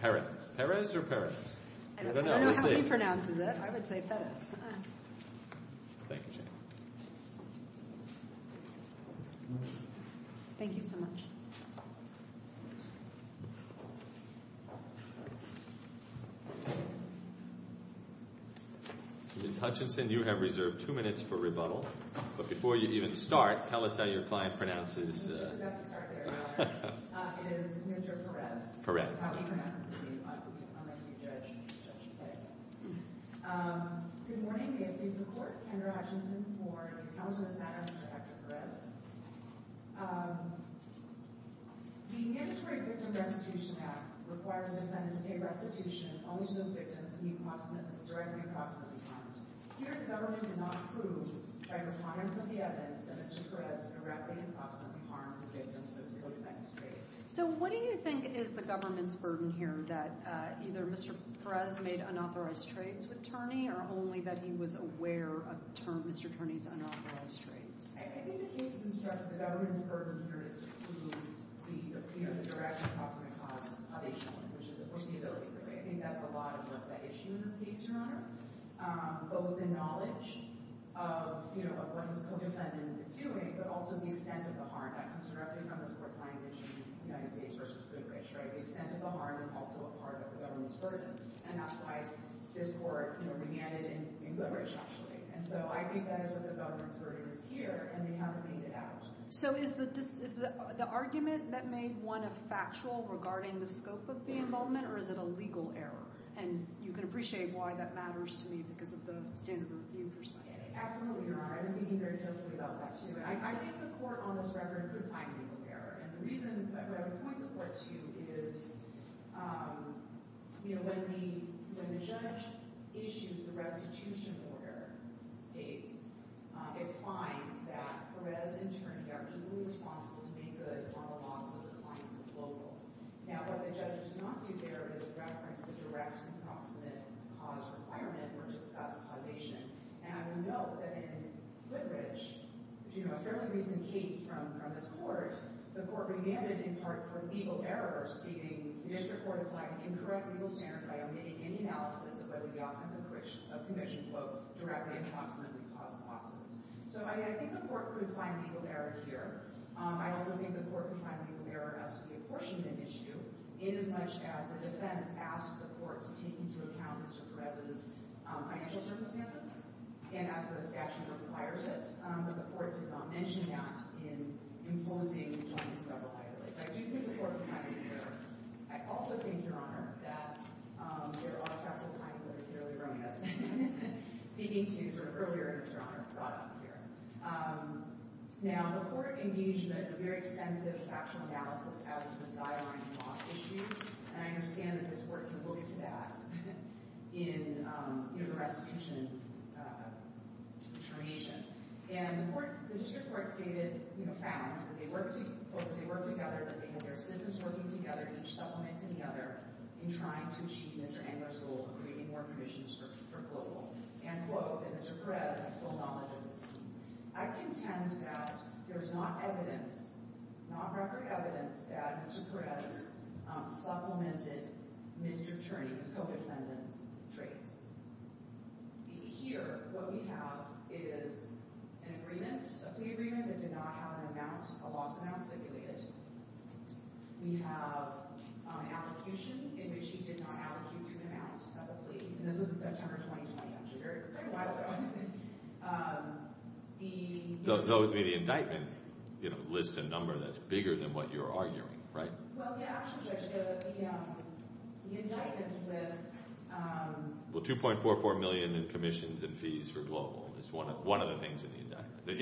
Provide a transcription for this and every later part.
Perez or Perez? I don't know how he pronounces it. I would say Perez. Thank you, Jane. Thank you so much. Ms. Hutchinson, you have reserved two minutes for rebuttal, but before you even start, tell us how your client pronounces it. It is Mr. Perez. Good morning. It is the court, Kendra Hutchinson, for counsel to stand for Dr. Perez. The Mandatory Victim Restitution Act requires a defendant to pay restitution only to those victims he directly or possibly harmed. Here, the government did not approve transparency of the evidence that Mr. Perez directly or possibly harmed the victims of his illegal defense trade. So what do you think is the government's burden here, that either Mr. Perez made unauthorized trades with Turney, or only that he was aware of Mr. Turney's unauthorized trades? I think the case is instructive. The government's burden here is to prove the direct or possibly which is the foreseeability. I think that's a lot of what's at issue in this case, Your Honor. Both the knowledge of what his co-defendant is doing, but also the extent of the harm that comes directly from this court's language in United States v. Goodrich, right? The extent of the harm is also a part of the government's burden, and that's why this court remanded it in Goodrich, actually. And so I think that is where the government's burden is here, and they haven't made it out. So is the argument that made one a factual regarding the scope of the involvement, or is it a legal error? And you can appreciate why that matters to me because of the standard of review perspective. Absolutely, Your Honor. I've been thinking very carefully about that, too. I think the court on this record could find legal error, and the reason I would point the court to is, you know, when the judge issues the restitution order, states, it finds that Perez and Turney are equally responsible to make good upon the losses of the clients of Global. Now, what the judge does not do there is reference the direct and proximate cause requirement, which is specifization. And I would note that in Goodrich, which, you know, a fairly recent case from this court, the court remanded in part for legal error, stating the district court applied an incorrect legal standard by omitting any analysis of whether the offense of commission, quote, directly and proximately caused losses. So I think the court could find legal error here. I also think the court could find legal error as to the apportionment issue, inasmuch as the defense asked the court to take into account Mr. Perez's financial circumstances, and as the statute requires it, but the court did not mention that in imposing on him several higher rates. I do think the court would find legal error. I also think, Your Honor, that there are a lot of counsel clients that are fairly romantic, speaking to, sort of earlier, Your Honor, brought up here. Now, the court engaged in a very extensive factual analysis as to the guidelines and loss issue, and I understand that this court can look to that in, you know, the restitution determination. And the court, the district court stated, you know, found that they worked together, that they had their systems working together, each supplementing the other, in trying to achieve Mr. Engler's goal of creating more commissions for global. And, quote, that Mr. Perez had full knowledge of this. I contend that there is not evidence, not record evidence, that Mr. Perez supplemented Mr. Cherney's co-defendant's traits. Here, what we have is an agreement, a plea agreement, that did not have an amount, a loss amount stipulated. We have an application in which he did not allocate an amount of a plea, and this was in September 2020, which is a very, very long time ago. The indictment, you know, lists a number that's bigger than what you're arguing, right? Well, yeah, actually, Judge, the indictment lists... Well, $2.44 million in commissions and fees for global is one of the things in the indictment, the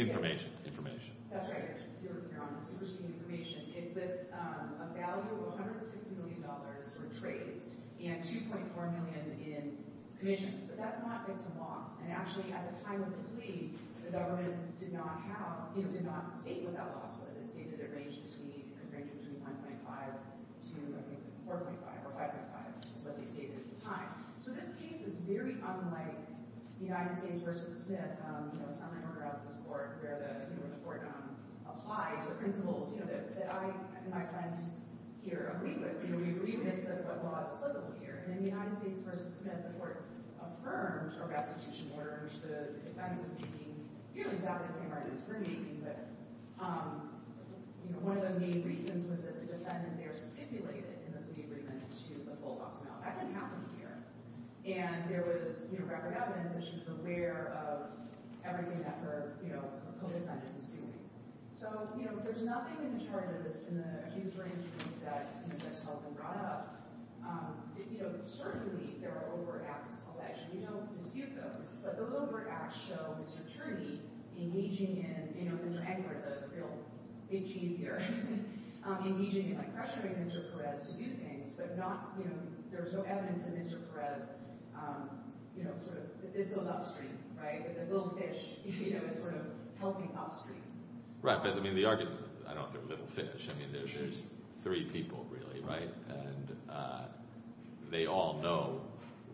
information. That's right. You're on the superscreen information. It lists a value of $160 million for traits and $2.4 million in commissions, but that's not victim loss. And actually, at the time of the plea, the government did not have, you know, did not state what that loss was. It stated it ranged between $1.5 to, I think, $4.5 or $5.5 is what they stated at the time. So this case is very unlike the United States v. Smith, you know, a summary order out of this court where the court applied the principles, you know, that I and my friend here agree with. You know, we agree with what law is applicable here, and in the United States v. Smith, the court affirmed, or restitution orders, the defendant's being, you know, exactly the same argument as attorney, but, you know, one of the main reasons was that the defendant there stipulated in the plea agreement to a full loss amount. That didn't happen here. And there was, you know, record evidence that she was aware of everything that her, you know, her co-defendant was doing. So, you know, there's nothing in the charge of this, in the huge range of things that, you know, Judge Baldwin brought up. You know, certainly there are overt acts called action. We don't dispute those, but those overt acts show Mr. Turney engaging in, you know, Mr. Egbert, the real big cheese here, engaging and pressuring Mr. Perez to do things, but not, you know, there's no evidence that Mr. Perez, you know, sort of, this goes upstream, right? This little fish, you know, is sort of helping upstream. Right, but I mean, the argument, I don't think little fish. I mean, there's three people, really, right? And they all know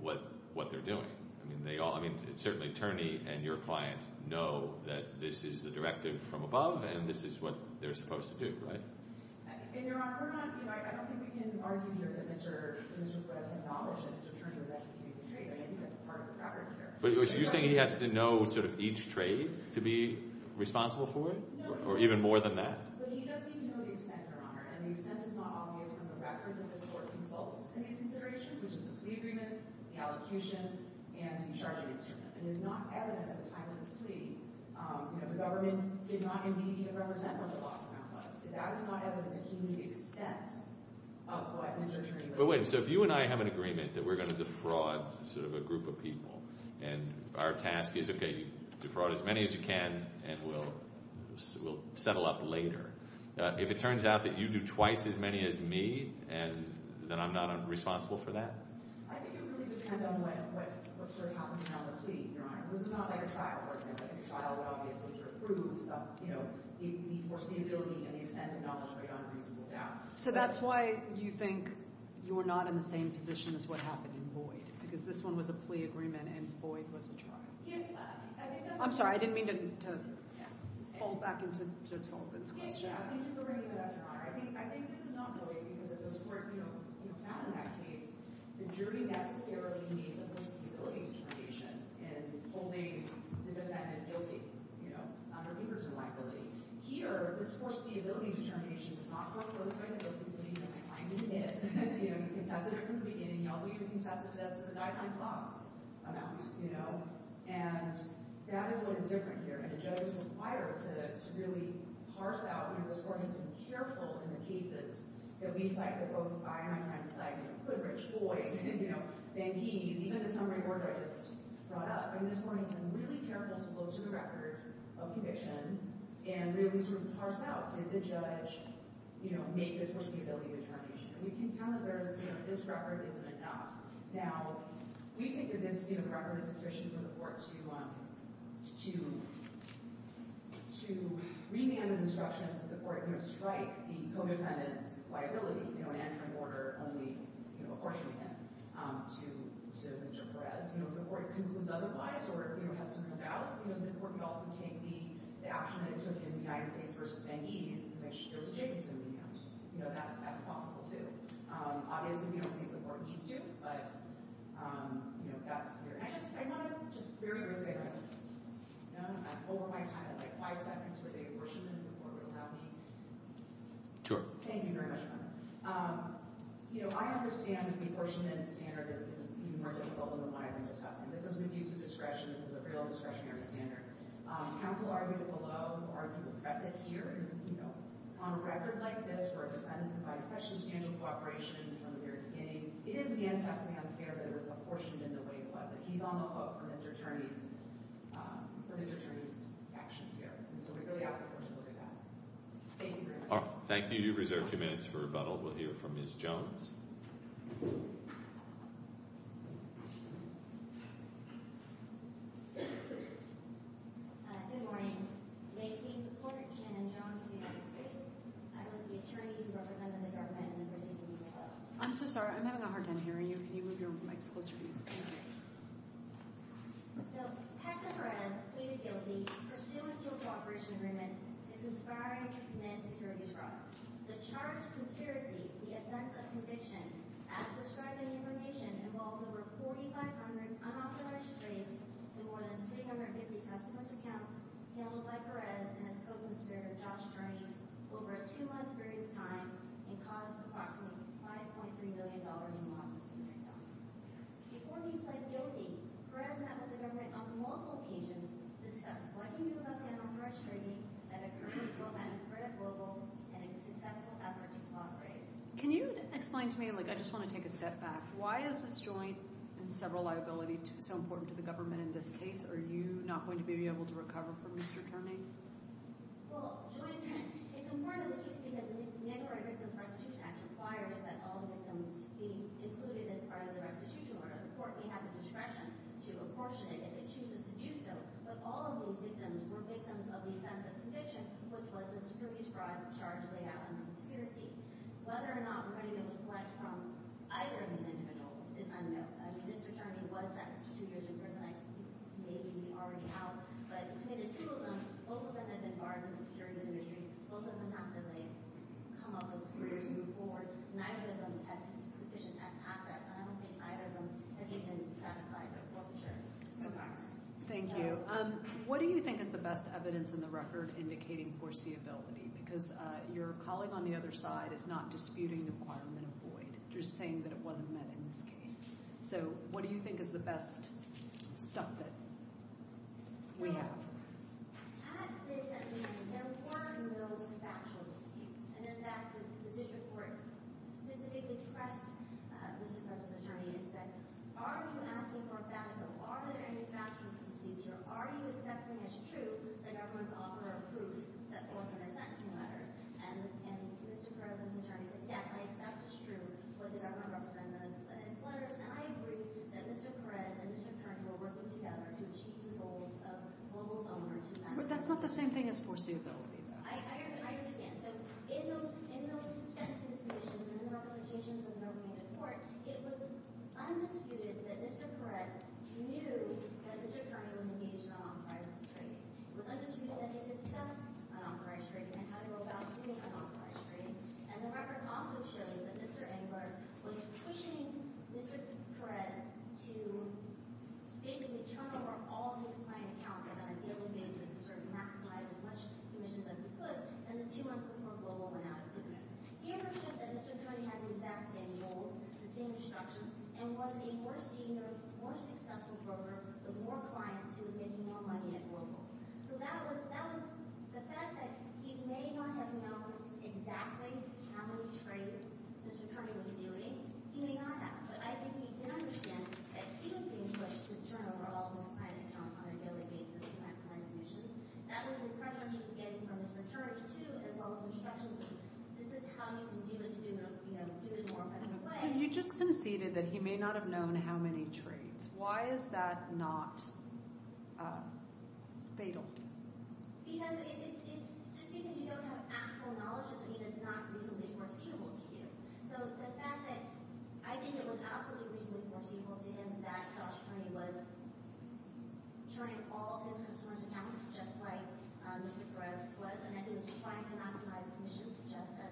what they're doing. I mean, certainly Turney and your client know that this is the directive from above, and this is what they're supposed to do, right? And, Your Honor, we're not, you know, I don't think we can argue here that Mr. Perez acknowledged that Mr. Turney was executing the trades. I think that's part of the fabric here. But you're saying he has to know, sort of, each trade to be responsible for it? No. Or even more than that? But he does need to know the extent, Your Honor, and the extent is not obvious from the record that this Court consults in these considerations, which is the plea agreement, the allocution, and the charge against Turney. It is not evident at the time of this plea, you know, the government did not indeed even represent what the loss amount was. That is not evident in the community extent of what Mr. Turney was doing. But wait, so if you and I have an agreement that we're going to defraud, sort of, a group of people, and our task is, okay, defraud as many as you can, and we'll settle up later. If it turns out that you do twice as many as me, and then I'm not responsible for that? I think it really depends on what, sort of, happens around the plea, Your Honor. This is not like a trial, for example. I think a trial would obviously, sort of, prove some, you know, the force, the ability, and the extent of knowledge right on reasonable doubt. So that's why you think you're not in the same position as what happened in Boyd? Because this one was a plea agreement, and Boyd was a trial? I'm sorry, I didn't mean to fall back into Judge Sullivan's question. I think this is not really, because at this point, you know, found in that case, the jury necessarily made the force, the ability determination in holding the defendant guilty, you know, on a reader's reliability. Here, the force, the ability determination does not work with respect to those who believe that the claimant did. You know, he contested it from the beginning. He also even contested it as to the guideline's loss amount, you know, and that is what is different here, and the judge was required to really parse out, you know, this court has been careful in the cases that we cite, that both Byron and I cite, you know, Quidrich, Boyd, you know, Vanquish, even the summary court that I just brought up, and this court has been really careful to go to the record of conviction and really, sort of, parse out, did the judge, you know, make this force, the ability determination? And we can tell that there's, you know, this record isn't enough. Now, we think that this, you know, strike the co-defendant's liability, you know, in entering order only, you know, apportioning him to Mr. Perez. You know, if the court concludes otherwise or, you know, has some doubts, you know, the court could also take the action that it took in the United States versus Vanquish and make sure there's a Jacobson recount. You know, that's possible, too. Obviously, we don't think the court needs to, but, you know, that's here. And I just very, very quickly, you know, I'm over my time. I have, like, five seconds for the apportionment, if the court would allow me. Sure. Thank you very much, Your Honor. You know, I understand that the apportionment standard is even more difficult than what I've been discussing. This is an abuse of discretion. This is a real discretionary standard. Counsel argued it below, argued to address it here. You know, on a record like this, where a defendant provided such substantial cooperation from the very beginning, it is manifestly unfair that it was apportioned in the way it was. He's on the hook for Mr. Turney's actions here. So we really ask the court to look at that. Thank you very much. Thank you. You have reserved a few minutes for rebuttal. We'll hear from Ms. Jones. Good morning. May it please the Court, Shannon Jones of the United States. I work for the attorney who represented the government in the proceeding. I'm so sorry. I'm having a hard time hearing you. Can you move your mic closer to me? So Hector Perez, pleaded guilty, pursuant to a cooperation agreement, is conspiring to command securities fraud. The charged conspiracy, the offense of conviction, as described in the information, involved over 4,500 unauthorized trades in more than 350 customer's accounts handled by Perez and his co-conspirator, Josh Turney, over a two-month period of time and caused approximately $5.3 million in law-enforcing victims. Before he pled guilty, Perez met with the government on multiple occasions to discuss what he knew about the unauthorized trading, and agreed to go back to Credit Global in a successful effort to cooperate. Can you explain to me, like, I just want to take a step back. Why is this joint and several liability so important to the government in this case? Are you not going to be able to recover from Mr. Turney? Well, joint and. It's important in the case because the Illinois Victims of Restitution Act requires that all victims be included as part of the restitution order. The court may have the discretion to apportion it if it chooses to do so, but all of these victims were victims of the offense of conviction, which was the securities fraud charge laid out on the conspiracy. Whether or not money was collected from either of these individuals is unknown. I mean, Mr. Turney was sentenced to two years in prison. I think he may be already out, but he committed two of them. Both of them had been barred from securities industry. Both of them have to, like, come up with a career to move forward. Neither of them has sufficient assets, and I don't think either of them has even satisfied the court's requirements. Thank you. What do you think is the best evidence in the record indicating foreseeability? Because your colleague on the other side is not disputing the requirement of void. You're just saying that it wasn't met in this case. So, what do you think is the best stuff that we have? Well, at this sentencing, there were no factual disputes. And in fact, the district court specifically pressed Mr. President's attorney and said, are you asking for a factual? Are there any factual disputes here? Are you accepting as true the government's offer of proof that the government represents them in its letters? And I agree that Mr. Perez and Mr. Turney were working together to achieve the goals of global donors. But that's not the same thing as foreseeability, though. I understand. So, in those sentencing submissions and the representations that were made in court, it was undisputed that Mr. Perez knew that Mr. Turney was engaged in an authorized trade. It was undisputed that he discussed an authorized trade and how to go about doing an authorized trade. And the record also showed that Mr. Engler was pushing Mr. Perez to basically turn over all of his client accounts on a daily basis to sort of maximize as much commissions as he could. And the two months before global went out of business. He understood that Mr. Turney had the exact same goals, the same instructions, and was a more senior, more successful broker with more clients who were making more money at So, you just conceded that he may not have known how many trades. Why is that not fatal? Because it's just because you don't have actual knowledge doesn't mean it's not reasonably foreseeable to you. So, the fact that I think it was absolutely reasonably foreseeable to him that Josh Turney was turning all his customers' accounts, just like Mr. Perez was, and that he was trying to maximize commissions just like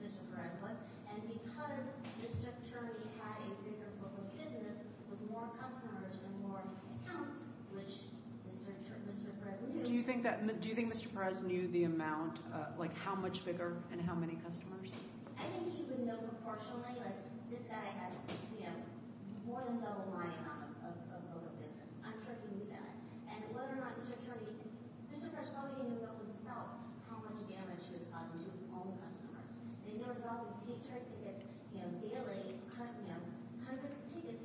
Mr. Perez was, and because Mr. Turney had a bigger global business with more customers and more accounts, which Mr. Perez knew. Do you think Mr. Perez knew the amount, like how much bigger and how many customers? I think he would know proportionally, like this guy has more than double my amount of global business. I'm sure he knew that. And whether or not Mr. Turney, Mr. Perez probably how much damage he was causing to his own customers. And he would probably take trade tickets, you know, daily, you know, cut him hundreds of tickets.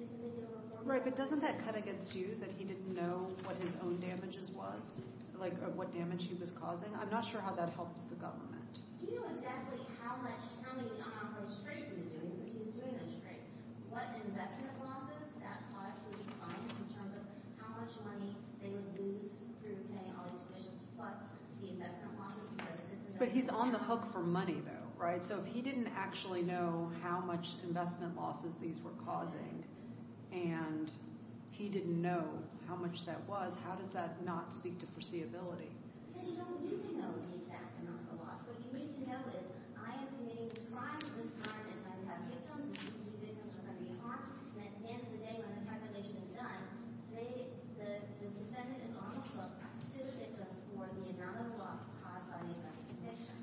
Right, but doesn't that cut against you that he didn't know what his own damages was? Like what damage he was causing? I'm not sure how that helps the government. He knew exactly how many of those trades he was doing because he was doing those trades. What investment losses that caused was defined in terms of how much money they would lose through paying all these commissions plus the investment losses. But he's on the hook for money though, right? So if he didn't actually know how much investment losses these were causing, and he didn't know how much that was, how does that not speak to foreseeability? Because you don't need to know the exact amount of loss. What you need to know is I am committing this crime, this crime is I have victims, these victims are going to be harmed, and at the end of the day, when the calculation is done, the defendant is also to the victims for the amount of loss caused by this conviction.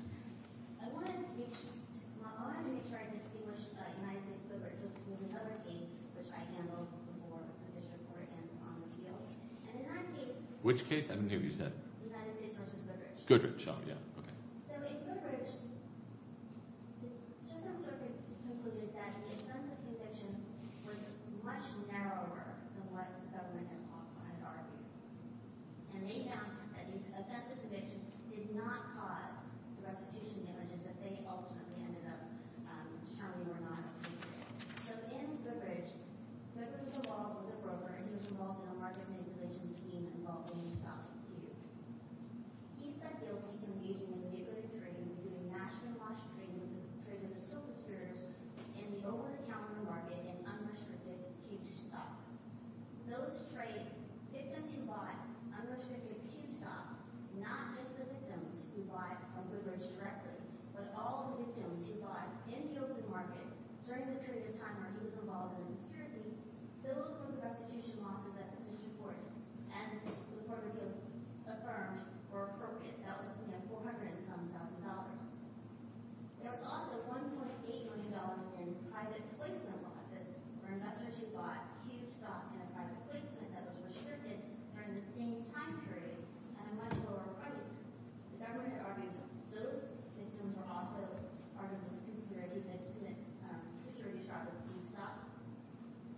I wanted to make sure I didn't say much about United States Goodrich. There was another case which I handled before additional court ends on the appeal. And in that case, Which case? I didn't hear what you said. United States versus Goodrich. Goodrich, oh yeah, okay. So in Goodrich, the circumstances concluded that the offense of conviction was much narrower than what the government had argued. And they found that the offense of conviction did not cause the restitution damages that they ultimately ended up showing or not. So in Goodrich, Goodrich's law was appropriate. He was involved in a market manipulation scheme involving the stock market. He's found guilty to engaging in illegal trade, including nationalized trades, trades of stock exporters, in the over-the-counter market and unrestricted huge stock. Those trade, victims who buy unrestricted huge stock, not just the victims who buy from Goodrich directly, but all the victims who buy in the open market during the period of time where he was involved in a conspiracy, filled with the restitution losses that the District Court and the Court of Appeals affirmed were appropriate. That was $410,000. There was also $1.8 million in private placement losses, where investors who bought huge stock in a private placement that was restricted during the same time period at a much lower price. The government had argued that those victims were also part of the conspiracy that distributed huge stock,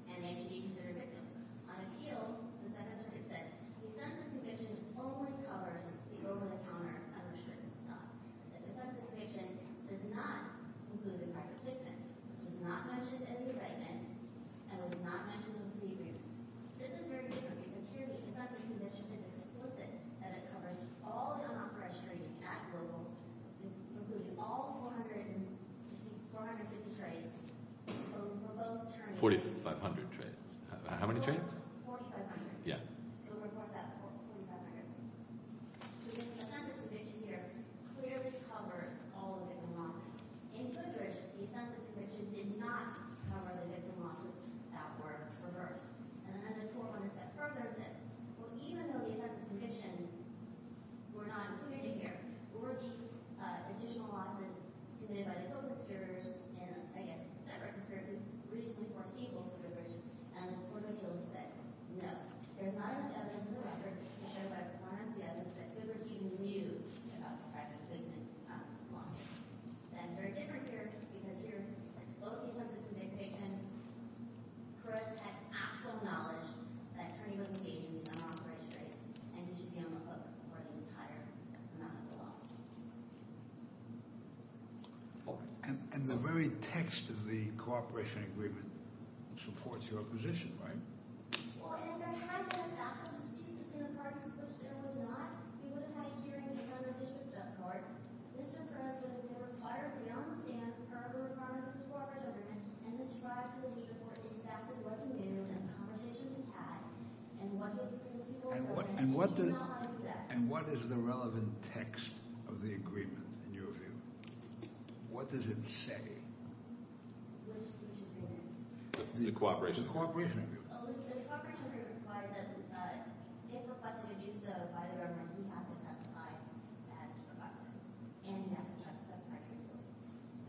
and they should be considered victims. On appeal, the Second Circuit said, defense of conviction only covers the over-the-counter unrestricted stock. The defense of conviction does not include the private placement. It was not mentioned in the indictment, and it was not mentioned in the plea agreement. This is very different, because here the defense of conviction is explicit that it covers all 450 trades. 4,500 trades. How many trades? 4,500. Yeah. So we'll report that 4,500. The defense of conviction here clearly covers all the victim losses. In Goodrich, the defense of conviction did not cover the victim losses that were reversed. And then the court went a step further and said, well, even though the defense of conviction was committed by the total conspirators and, I guess, separate conspirators who recently forced sequels of Goodrich, the court of appeals said, no, there's not enough evidence in the record to show by performance of the evidence that Goodrich even knew about the private placement losses. And it's very different here, because here it's both the defense of conviction who has had actual knowledge that an attorney was engaged in these unauthorized trades, and he should be on the hook for the entire amount of the loss. And the very text of the cooperation agreement supports your position, right? Well, Andrew, can I go back to the speech that the department was supposed to have? It was not. We would have had a hearing on the district court. Mr. Perez would have been required to be on the stand for the requirements of the corporate agreement and describe to And what is the relevant text of the agreement, in your view? What does it say? The cooperation agreement. The cooperation agreement. The cooperation agreement requires that if requested to do so by the government, he has to testify as requested, and he has to testify truthfully.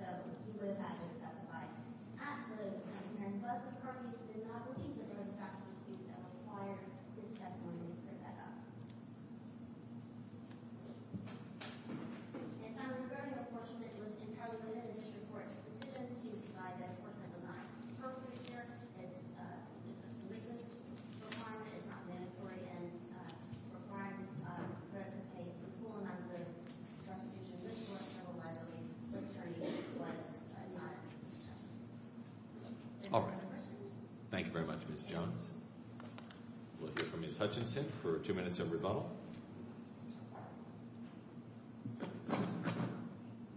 So he would have had to testify at the testimony, but the parties did not believe that there was a fact of dispute that required his testimony to pick that up. And I would agree with the question that it was entirely within the district court's position to decide that a corporate agreement was not appropriate here. It's a business requirement, it's not mandatory, and required the president to pay the full amount of the restitution. This court has a widely-legitimized and non-existing statute. All right. Thank you very much, Ms. Jones. We'll hear from Ms. Hutchinson for two minutes of rebuttal.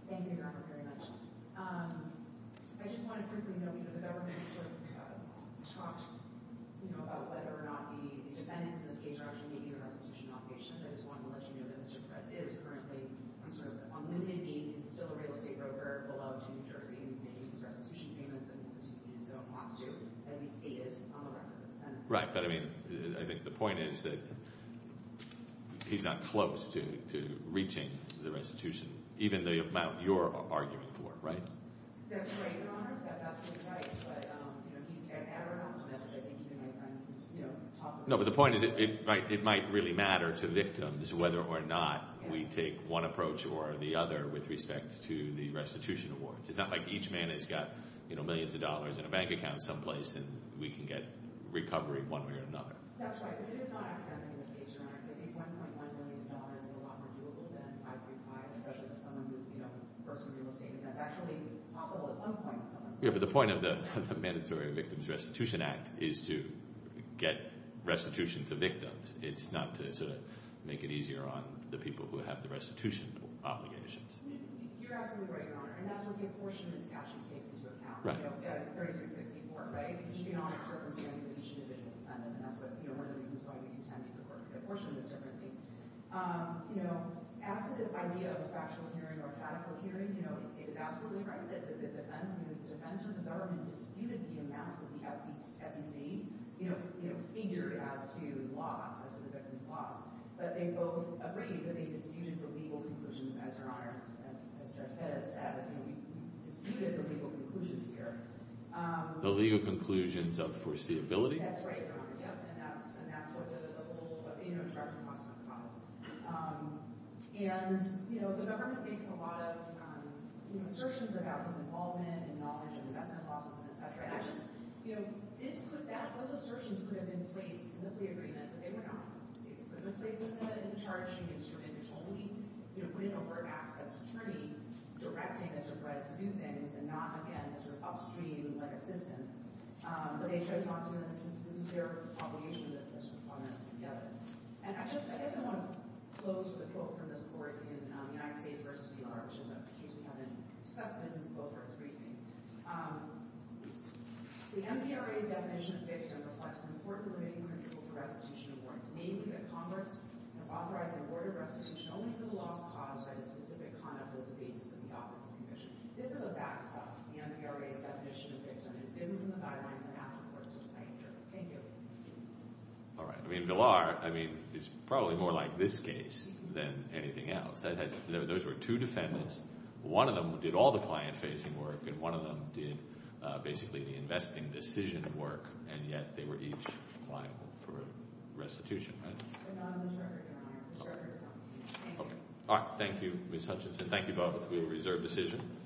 Thank you, Governor, very much. I just want to quickly note, you know, the government has sort of talked, you know, about whether or not the defendants in this case are actually meeting the restitution obligations. I just want to let you know that Mr. Press is currently on sort of unlimited needs. He's still a real estate broker, beloved in New Jersey, and he's making his restitution payments, and so he wants to, as he stated on the record of the sentence. Right, but I mean, I think the point is that he's not close to reaching the restitution, even the amount you're arguing for, right? That's right, Governor. That's absolutely right. But, you know, he's got to have a No, but the point is it might really matter to victims whether or not we take one approach or the other with respect to the restitution awards. It's not like each man has got, you know, millions of dollars in a bank account someplace, and we can get recovery one way or another. That's right, but it is not academic in this case, Your Honor, because I think $1.1 million is a lot more doable than 535, especially for someone who, you know, works in real estate, and that's actually possible at some point in someone's life. Yeah, but the point of the Mandatory Victims Restitution Act is to get restitution to victims. It's not to sort of make it easier on the people who have the restitution obligations. You're absolutely right, Your Honor, and that's where the apportionment statute takes into account, you know, 36-64, right? The economic circumstances of each individual defendant, and that's one of the reasons why we intend to apportion this differently. You know, as to this idea of a factual hearing or a factual hearing, you know, it's absolutely right that the defense and the defense or the government disputed the amounts that the SEC, you know, figured as to loss, as to the victims' loss, but they both agreed that they disputed the legal conclusions here. The legal conclusions of foreseeability? That's right, Your Honor, yep, and that's what the whole, you know, charge of loss was. And, you know, the government makes a lot of, you know, assertions about disinvolvement and knowledge of investment losses and et cetera, and I just, you know, this, those assertions could have been placed in the plea agreement, but they were not. They could have been placed in the charge sheet and submitted totally, you know, put in a word box as an outcome, again, sort of upstream, like assistance, but they should have talked to them and this was their obligation that this was augmented to the evidence. And I just, I guess I want to close with a quote from this court in the United States v. DR, which is a case we have in discussion that isn't in both our briefings. The MVRA's definition of victims reflects an important limiting principle for restitution awards, namely that Congress has authorized the award of restitution only for the loss caused by the specific conduct that was the basis of the office of the commission. This is a backstop. The MVRA's definition of victim is different from the guidelines the NASA force was playing here. Thank you. All right. I mean, Villar, I mean, is probably more like this case than anything else. Those were two defendants. One of them did all the client-facing work, and one of them did basically the investing decision work, and yet they were each liable for restitution, right? But not on this record, Your Honor. This record is not on this case. Thank you. All right. Thank you, Ms. Hutchinson. Thank you both. We will reserve decision.